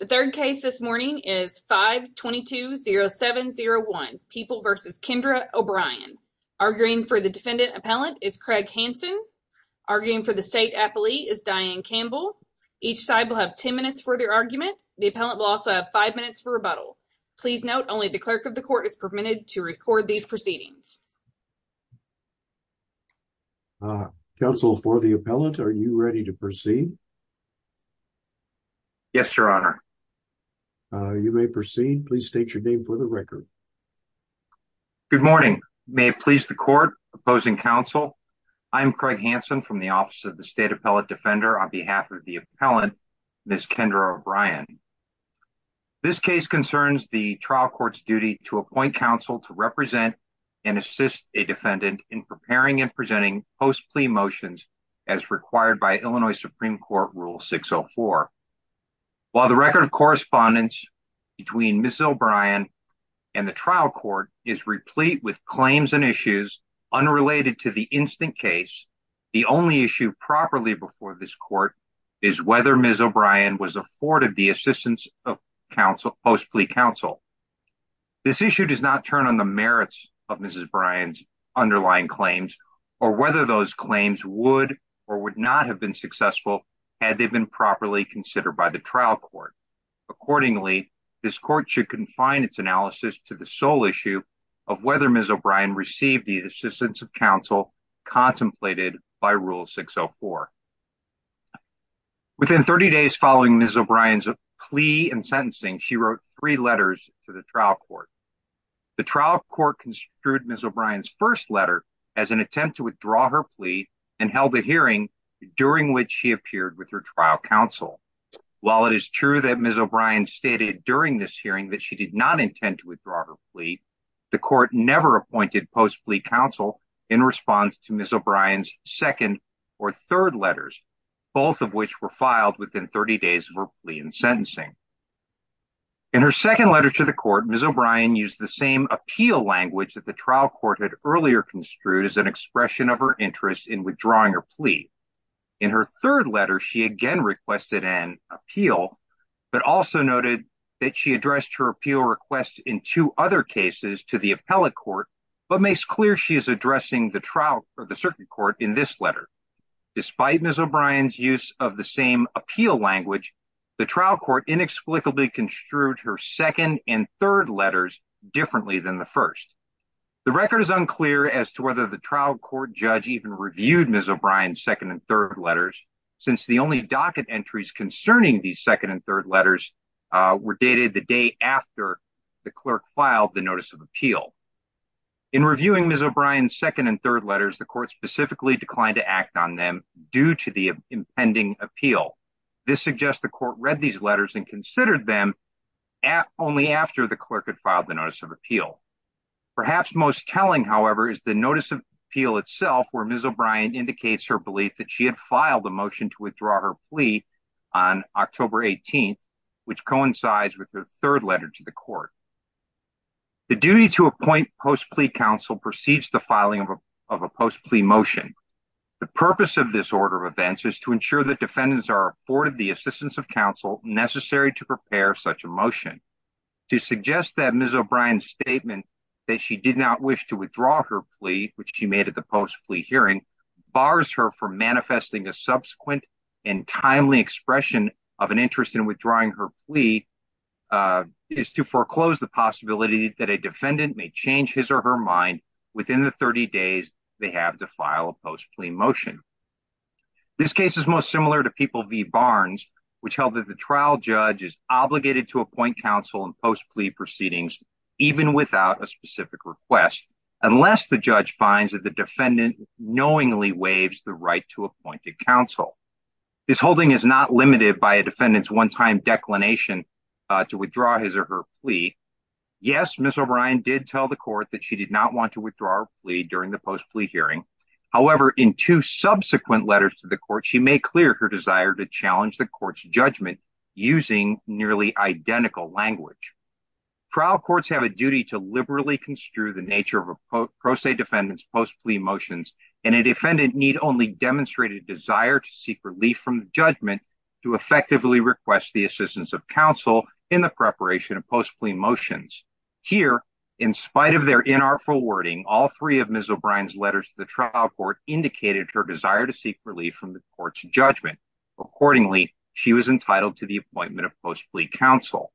The third case this morning is 522-0701, People v. Kendra O'Brien. Arguing for the defendant appellant is Craig Hansen. Arguing for the state appellee is Diane Campbell. Each side will have 10 minutes for their argument. The appellant will also have 5 minutes for rebuttal. Please note only the clerk of the court is permitted to record these proceedings. Counsel for the appellant, are you ready to proceed? Craig Hansen Yes, Your Honor. You may proceed. Please state your name for the record. Craig Hansen Good morning. May it please the court, opposing counsel, I am Craig Hansen from the Office of the State Appellate Defender on behalf of the appellant, Ms. Kendra O'Brien. This case concerns the trial court's duty to appoint counsel to represent and assist a defendant in preparing and presenting post-plea motions as required by Supreme Court Rule 604. While the record of correspondence between Ms. O'Brien and the trial court is replete with claims and issues unrelated to the instant case, the only issue properly before this court is whether Ms. O'Brien was afforded the assistance of post-plea counsel. This issue does not turn on the merits of Ms. O'Brien's underlying claims or whether those had they been properly considered by the trial court. Accordingly, this court should confine its analysis to the sole issue of whether Ms. O'Brien received the assistance of counsel contemplated by Rule 604. Within 30 days following Ms. O'Brien's plea and sentencing, she wrote three letters to the trial court. The trial court construed Ms. O'Brien's first letter as an attempt to withdraw her plea and held a hearing during which she appeared with her trial counsel. While it is true that Ms. O'Brien stated during this hearing that she did not intend to withdraw her plea, the court never appointed post-plea counsel in response to Ms. O'Brien's second or third letters, both of which were filed within 30 days of her plea and sentencing. In her second letter to the court, Ms. O'Brien used the same appeal language that the trial court had earlier construed as an expression of her interest in withdrawing her plea. In her third letter, she again requested an appeal but also noted that she addressed her appeal request in two other cases to the appellate court but makes clear she is addressing the trial or the circuit court in this letter. Despite Ms. O'Brien's use of the same appeal language, the trial court inexplicably construed her second and third letters differently than the first. The record is unclear as to whether the trial court judge even reviewed Ms. O'Brien's second and third letters since the only docket entries concerning these second and third letters were dated the day after the clerk filed the notice of appeal. In reviewing Ms. O'Brien's second and third letters, the court specifically declined to act on them due to the impending appeal. This suggests the court read these letters and considered them only after the most telling however is the notice of appeal itself where Ms. O'Brien indicates her belief that she had filed a motion to withdraw her plea on October 18th which coincides with the third letter to the court. The duty to appoint post plea counsel precedes the filing of a post plea motion. The purpose of this order of events is to ensure that defendants are afforded the assistance of counsel necessary to prepare such a motion. To suggest that Ms. O'Brien's statement that she did not wish to withdraw her plea which she made at the post plea hearing bars her from manifesting a subsequent and timely expression of an interest in withdrawing her plea is to foreclose the possibility that a defendant may change his or her mind within the 30 days they have to file a post plea motion. This case is most similar to People v. Barnes which held that the unless the judge finds that the defendant knowingly waives the right to appointed counsel. This holding is not limited by a defendant's one-time declination to withdraw his or her plea. Yes Ms. O'Brien did tell the court that she did not want to withdraw her plea during the post plea hearing however in two subsequent letters to the court she may clear her desire to challenge the court's judgment using nearly identical language. Trial courts have a duty to liberally construe the nature of a pro se defendant's post plea motions and a defendant need only demonstrate a desire to seek relief from the judgment to effectively request the assistance of counsel in the preparation of post plea motions. Here in spite of their inartful wording all three of Ms. O'Brien's letters to the trial court indicated her desire to seek relief from the court's judgment. Accordingly she was entitled to the appointment of post plea counsel.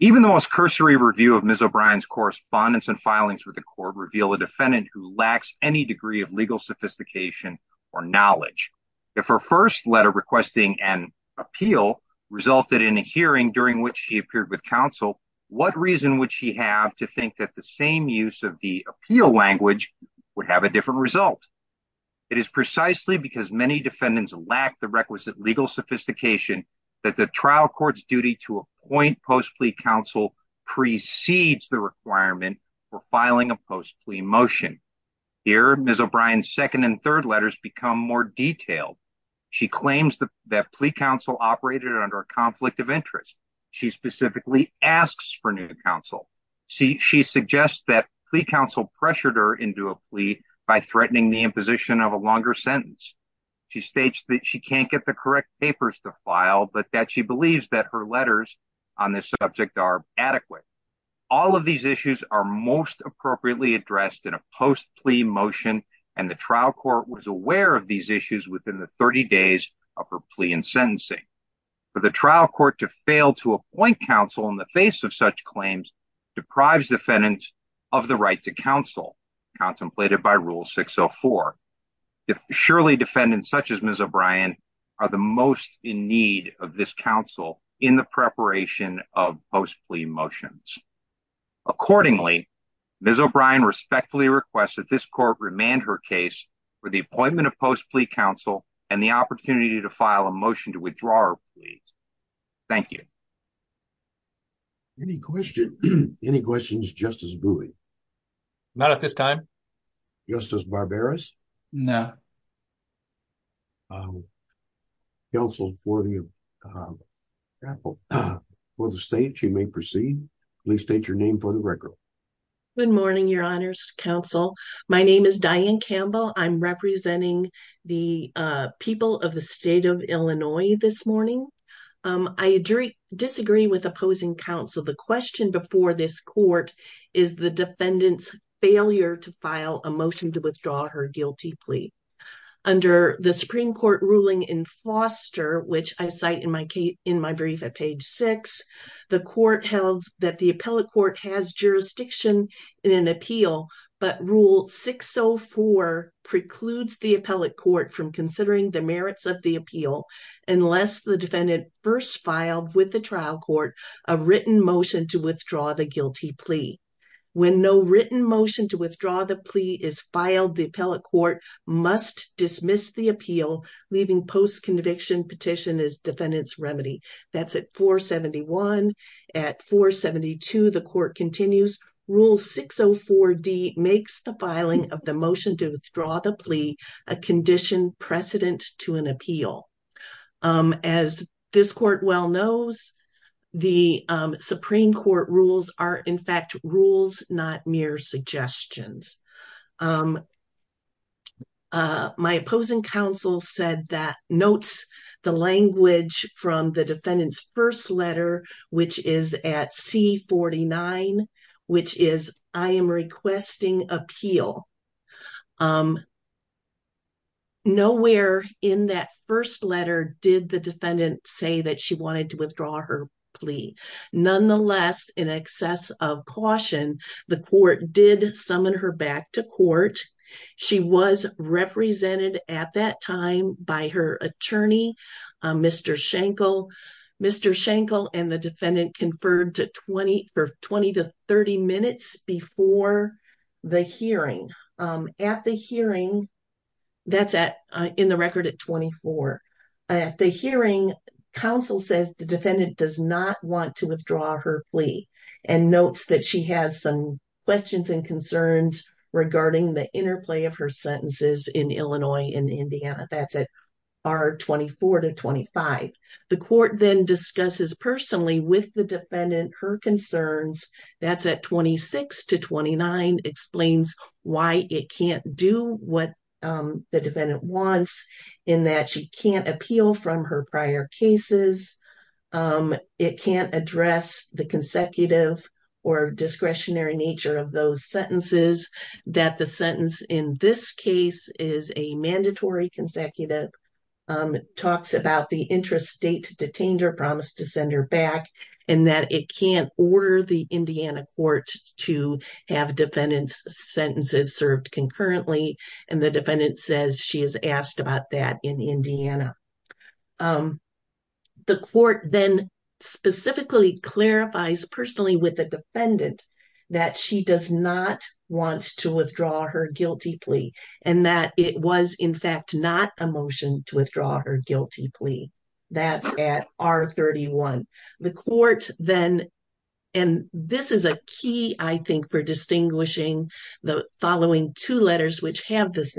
Even the most cursory review of Ms. O'Brien's correspondence and filings with the court reveal a defendant who lacks any degree of legal sophistication or knowledge. If her first letter requesting an appeal resulted in a hearing during which she appeared with counsel what reason would she have to think that the same use of the appeal language would have a different result? It is precisely because many defendants lack the requisite legal sophistication that the trial court's duty to appoint post plea counsel precedes the requirement for filing a post plea motion. Here Ms. O'Brien's second and third letters become more detailed. She claims that plea counsel operated under a conflict of interest. She specifically asks for new counsel. She suggests that plea counsel pressured her into a plea by threatening the imposition of a longer sentence. She states that she can't get the correct papers to file but that she believes that her letters on this subject are adequate. All of these issues are most appropriately addressed in a post plea motion and the trial court was aware of these issues within the 30 days of her plea and sentencing. For the trial court to fail to appoint counsel in the face of such claims deprives defendants of the right to counsel contemplated by rule 604. If surely defendants such as Ms. O'Brien are the most in need of this counsel in the preparation of post plea motions. Accordingly Ms. O'Brien respectfully requests that this court remand her case for the appointment of post plea counsel and the opportunity to file a motion to withdraw her plea. Thank you. Any questions? Any questions Justice Bowie? Not at this time. Justice Barberis? No. Counsel for the uh for the state you may proceed. Please state your name for the record. Good morning your honors counsel. My name is Diane Campbell. I'm representing the people of state of Illinois this morning. I disagree with opposing counsel. The question before this court is the defendant's failure to file a motion to withdraw her guilty plea. Under the Supreme Court ruling in Foster which I cite in my brief at page six, the court held that the appellate court has jurisdiction in an appeal but rule 604 precludes the appellate court from considering the merits of the appeal unless the defendant first filed with the trial court a written motion to withdraw the guilty plea. When no written motion to withdraw the plea is filed the appellate court must dismiss the appeal leaving post conviction petition as defendant's remedy. That's at 471. At 472 the court continues rule 604d makes the filing of the motion to withdraw the plea a condition precedent to an appeal. As this court well knows the Supreme Court rules are in fact rules not mere suggestions. My opposing counsel said that notes the language from the defendant's first letter which is at c 49 which is I am requesting appeal. Nowhere in that first letter did the defendant say that she wanted to withdraw her plea. Nonetheless in excess of caution the court did summon her back to court. She was represented at that time by her attorney Mr. Shankle. Mr. Shankle and the defendant conferred to 20 for 20 to 30 minutes before the hearing. At the hearing that's at in the record at 24. At the hearing counsel says the defendant does not want to withdraw her plea and notes that she has some questions and concerns regarding the interplay of her sentences in Illinois and Indiana. That's at our 24 to 25. The court then discusses personally with the defendant her concerns. That's at 26 to 29 explains why it can't do what the defendant wants in that she can't appeal from her prior cases. It can't address the consecutive or discretionary nature of those sentences. That the sentence in this case is a mandatory consecutive talks about the interest date to detain her promise to send her back and that it can't order the Indiana court to have defendants sentences served concurrently and the defendant says she is asked about that in Indiana. The court then specifically clarifies personally with the defendant that she does not want to withdraw her guilty plea and that it was in fact not a motion to withdraw her guilty plea. That's at our 31. The court then and this is a key I think for distinguishing the following two she has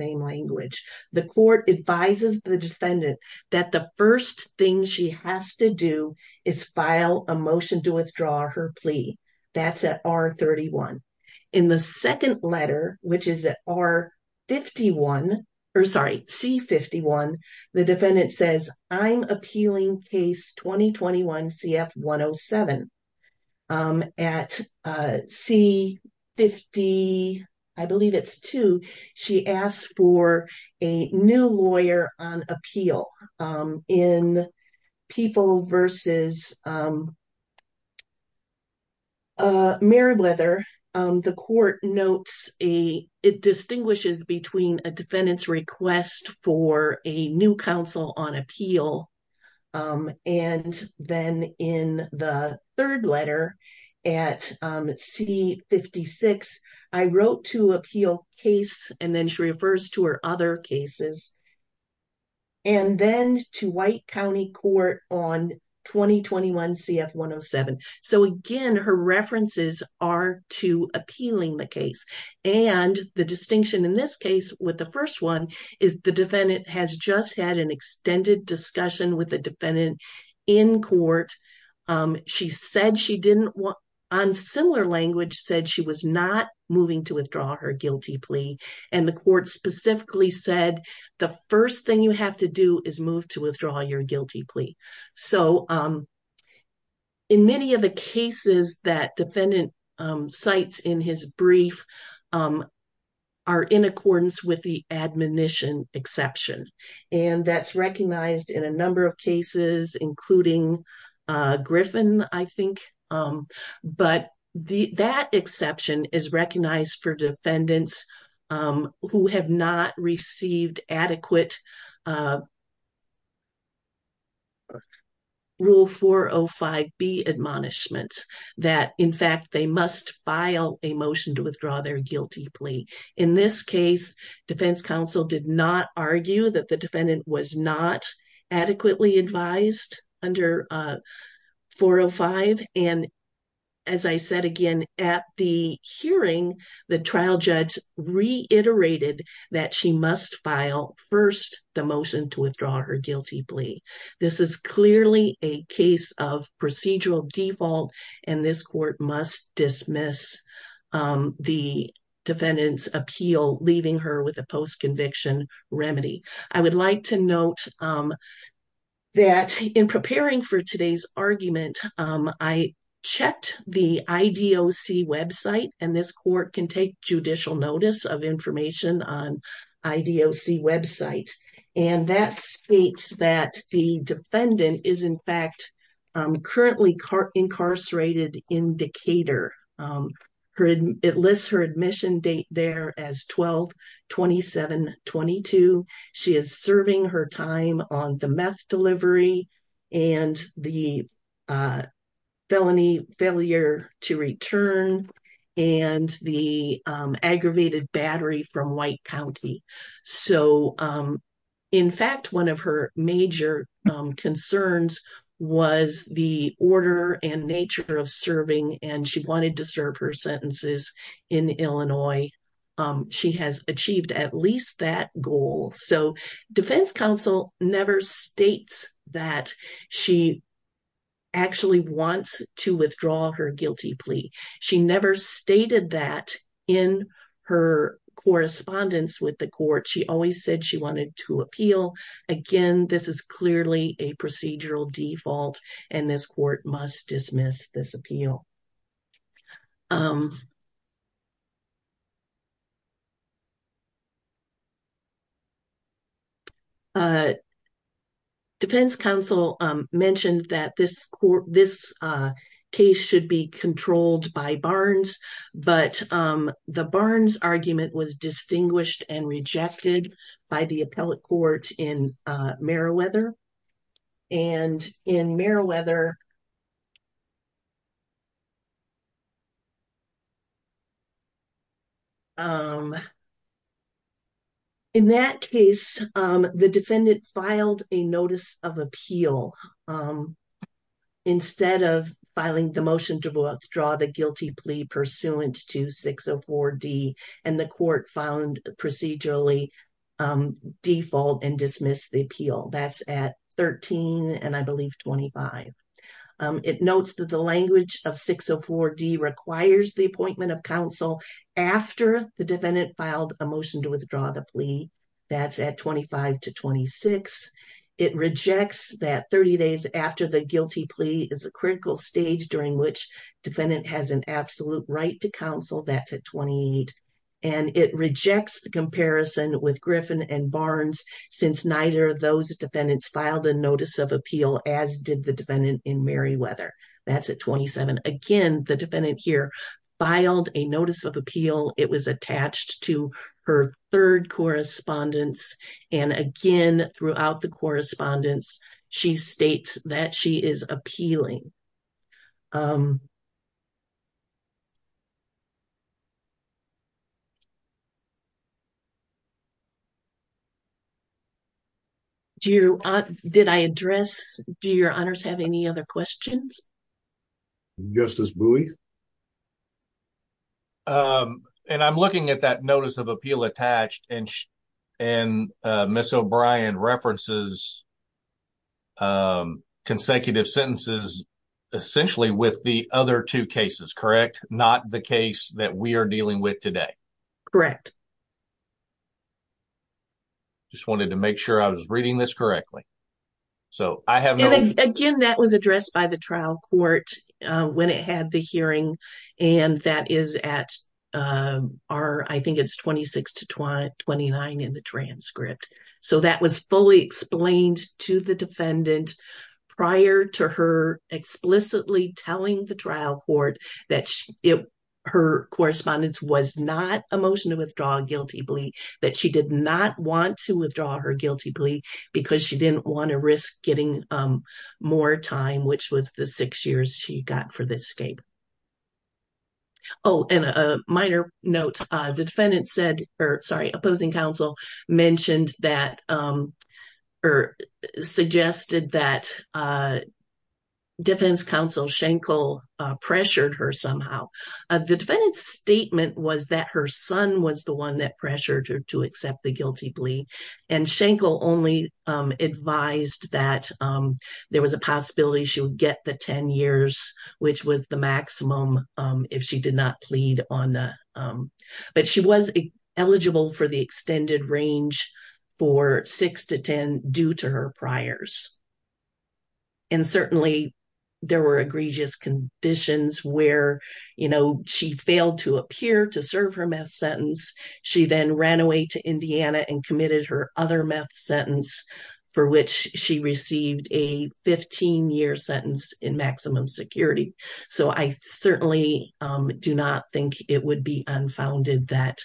to do is file a motion to withdraw her plea. That's at our 31 in the second letter which is at our 51 or sorry C 51. The defendant says I'm appealing case 2021 CF 107 at C 50. I believe she asked for a new lawyer on appeal in people versus Meribeth. The court notes a it distinguishes between a defendant's request for a new council on appeal and then in the third letter at C 56. I wrote to appeal case and then she refers to her other cases and then to white county court on 2021 CF 107. So again her references are to appealing the case and the distinction in this case with the first one is the defendant has just had an extended discussion with the defendant in court. She said she didn't want on similar language said she was not moving to withdraw her guilty plea and the court specifically said the first thing you have to do is move to withdraw your guilty plea. So in many of the cases that brief are in accordance with the admonition exception and that's recognized in a number of cases including Griffin I think but the that exception is recognized for defendants who have not received adequate rule 405 b admonishments that in fact they must file a motion to withdraw their guilty plea. In this case defense counsel did not argue that the defendant was not adequately advised under 405 and as I said again at the hearing the trial judge reiterated that she must file first the motion to withdraw her guilty plea. This is clearly a case of procedural default and this court must dismiss the defendant's appeal leaving her with a post-conviction remedy. I would like to note that in preparing for today's argument I checked the IDOC website and this court can take judicial notice of information on IDOC website and that states that the defendant is in fact currently incarcerated in Decatur. It lists her admission date there as 12 27 22. She is serving her time on the meth delivery and the felony failure to return and the aggravated battery from White County. So in fact one of her major concerns was the order and nature of serving and she wanted to serve her sentences in Illinois. She has achieved at least that goal. So defense counsel never states that she actually wants to withdraw her guilty plea. She never stated that in her correspondence with the court. She always said she wanted to appeal. Again this is clearly a procedural default and this court must dismiss this appeal. Defense counsel mentioned that this case should be controlled by Barnes but the Barnes argument was distinguished and rejected by the appellate court in Meriwether and in Meriwether in that case the defendant filed a notice of appeal instead of filing the motion to withdraw the guilty plea pursuant to 604d and the court found procedurally default and dismissed the appeal. That's at 13 and I believe 25. It notes that the language of 604d requires the appointment of counsel after the defendant filed a motion to withdraw the plea. That's at 25 to 26. It rejects that 30 days after the guilty plea is a critical stage during which defendant has an absolute right to counsel. That's at 28 and it rejects the comparison with Griffin and Barnes since neither of those defendants filed a notice of appeal as did the defendant in Meriwether. That's at 27. Again the defendant here filed a notice of appeal. It was attached to her third correspondence and again throughout the correspondence she states that she is appealing. Do you, did I address, do your honors have any other questions? Justice Bowie? And I'm looking at that notice of appeal attached and and Ms. O'Brien references consecutive sentences essentially with the other two cases, correct? Not the case that we are dealing with today. Correct. Just wanted to make sure I was reading this correctly. So I have no. Again that was addressed by the trial court when it had the hearing and that is at, I think it's 26 to 29 in the transcript. So that was fully explained to the defendant prior to her explicitly telling the trial court that her correspondence was not a motion to withdraw a guilty plea. That she did not want to withdraw her guilty plea because she didn't want to risk getting more time, which was the six years she got for the escape. Oh and a minor note, the defendant said or sorry opposing counsel mentioned that or suggested that defense counsel Schenkel pressured her somehow. The defendant's statement was that her son was the one that pressured her to accept the guilty plea and Schenkel only advised that there was a possibility she would get the 10 years, which was the maximum if she did not plead on the, but she was eligible for the extended range for six to 10 due to her priors. And certainly there were egregious conditions where, you know, she failed to appear to serve her meth sentence. She then ran away to Indiana and committed her other meth sentence for which she received a 15 year sentence in maximum security. So I certainly do not think it would be unfounded that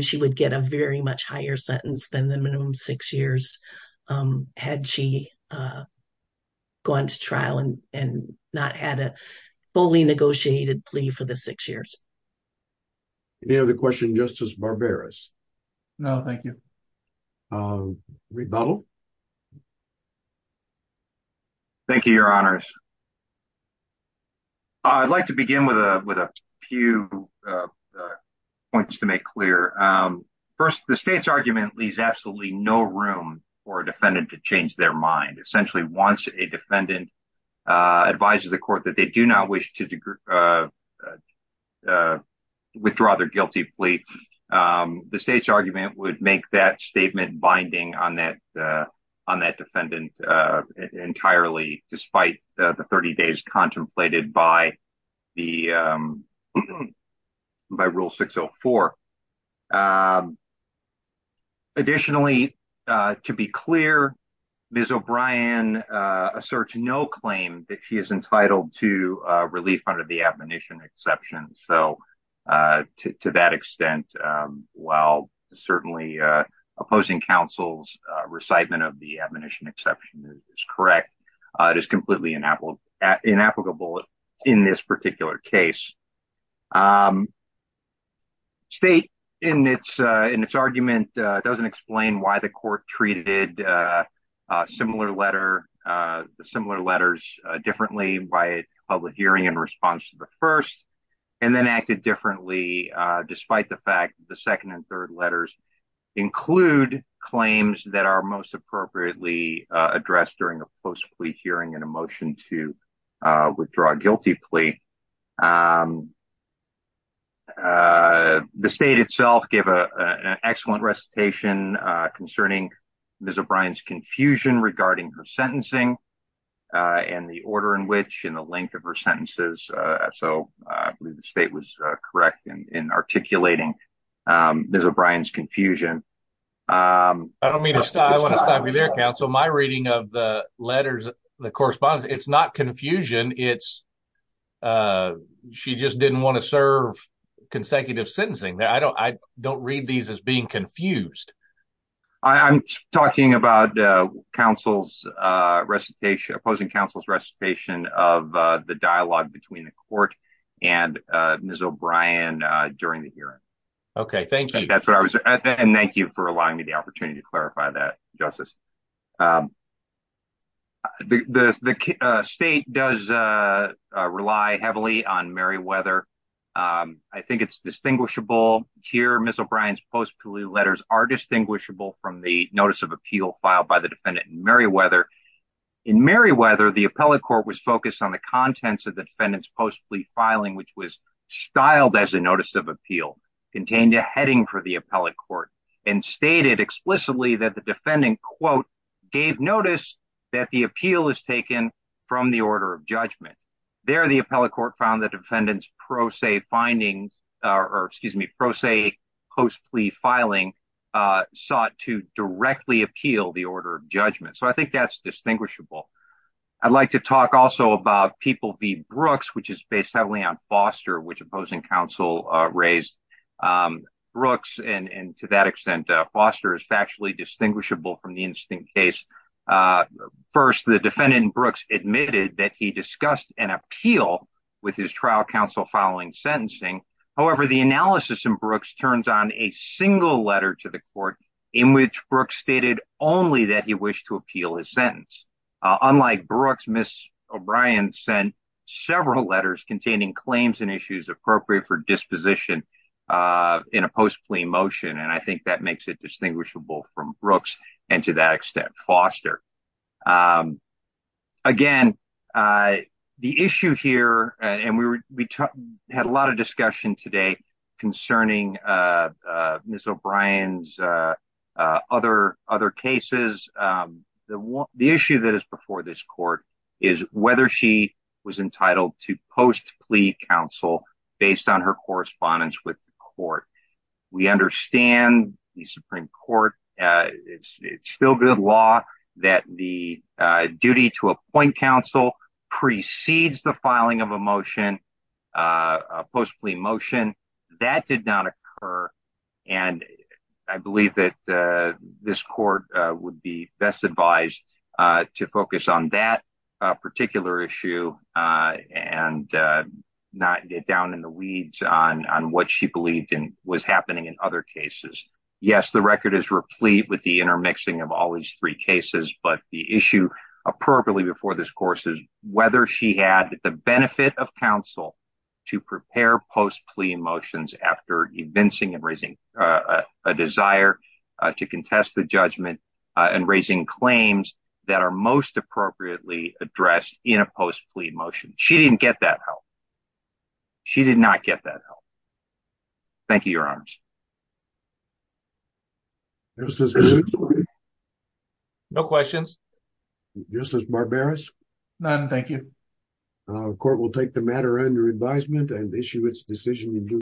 she would get a very much higher sentence than the minimum six years had she gone to trial and not had a fully negotiated plea for the six years. Any other question Justice Barberis? No, thank you. Rebuttal. Thank you, your honors. I'd like to begin with a few points to make clear. First, the state's argument leaves absolutely no room for a defendant to change their mind. Essentially, once a defendant advises the court that they do not wish to withdraw their guilty plea, the state's argument would make that statement binding on that defendant entirely despite the 30 days contemplated by rule 604. Additionally, to be clear, Ms. O'Brien asserts no claim that she is entitled to relief under the admonition exception. So to that extent, while certainly opposing counsel's recitement of the admonition exception is correct, it is completely inapplicable in this particular case. State, in its argument, doesn't explain why the court treated similar letter, the similar letters, differently by public hearing in response to the first and then acted differently despite the fact the second and third letters include claims that are most appropriately addressed during a post plea hearing and a motion to withdraw a guilty plea. The state itself gave an excellent recitation concerning Ms. O'Brien's confusion regarding her sentencing and the order in which and the length of her sentences. So I believe the state was correct in articulating Ms. O'Brien's confusion. I don't mean to stop you there, counsel. My reading of the letters, the correspondence, it's not confusion. It's she just didn't want to serve consecutive sentencing. I don't read these as being confused. I'm talking about opposing counsel's recitation of the dialogue between the court and Ms. O'Brien during the hearing. Okay, thank you. And thank you for allowing me the opportunity to clarify that, Justice. The state does rely heavily on Meriwether. I think it's distinguishable here, Ms. O'Brien's post plea letters are distinguishable from the notice of appeal filed by the defendant in Meriwether. In Meriwether, the appellate court was focused on the contents of the defendant's post plea filing, which was styled as a notice of appeal, contained a heading for the appellate court and stated explicitly that the defendant, quote, gave notice that the appeal is taken from the order of judgment. There, the appellate court found the defendant's pro se finding, or excuse me, pro se post plea filing, sought to directly appeal the order of judgment. So I think that's distinguishable. I'd like to talk also about People v. Brooks, which is based heavily on Foster, which opposing counsel raised. Brooks, and to that extent, Foster is factually distinguishable from the case. First, the defendant Brooks admitted that he discussed an appeal with his trial counsel following sentencing. However, the analysis in Brooks turns on a single letter to the court in which Brooks stated only that he wished to appeal his sentence. Unlike Brooks, Ms. O'Brien sent several letters containing claims and issues appropriate for disposition in a post plea motion, and I think that makes it distinguishable from Brooks, and to that extent, Foster. Again, the issue here, and we had a lot of discussion today concerning Ms. O'Brien's other cases. The issue that is before this court is whether she was entitled to post plea counsel based on her correspondence with the court. We understand the Supreme Court, it's still good law that the duty to appoint counsel precedes the filing of a motion, a post plea motion. That did not occur, and I believe that this court would be best advised to focus on that particular issue and not get down in the weeds on what she believed was happening in other cases. Yes, the record is replete with the intermixing of all these three cases, but the issue appropriately before this course is whether she had the benefit of counsel to prepare post plea motions after evincing and raising a desire to contest the judgment and raising claims that are most appropriately addressed in a post plea motion. She didn't get that help. She did not get that help. Thank you, Your Honors. No questions. Justice Barberis? None, thank you. Court will take the matter under advisement and issue its decision in due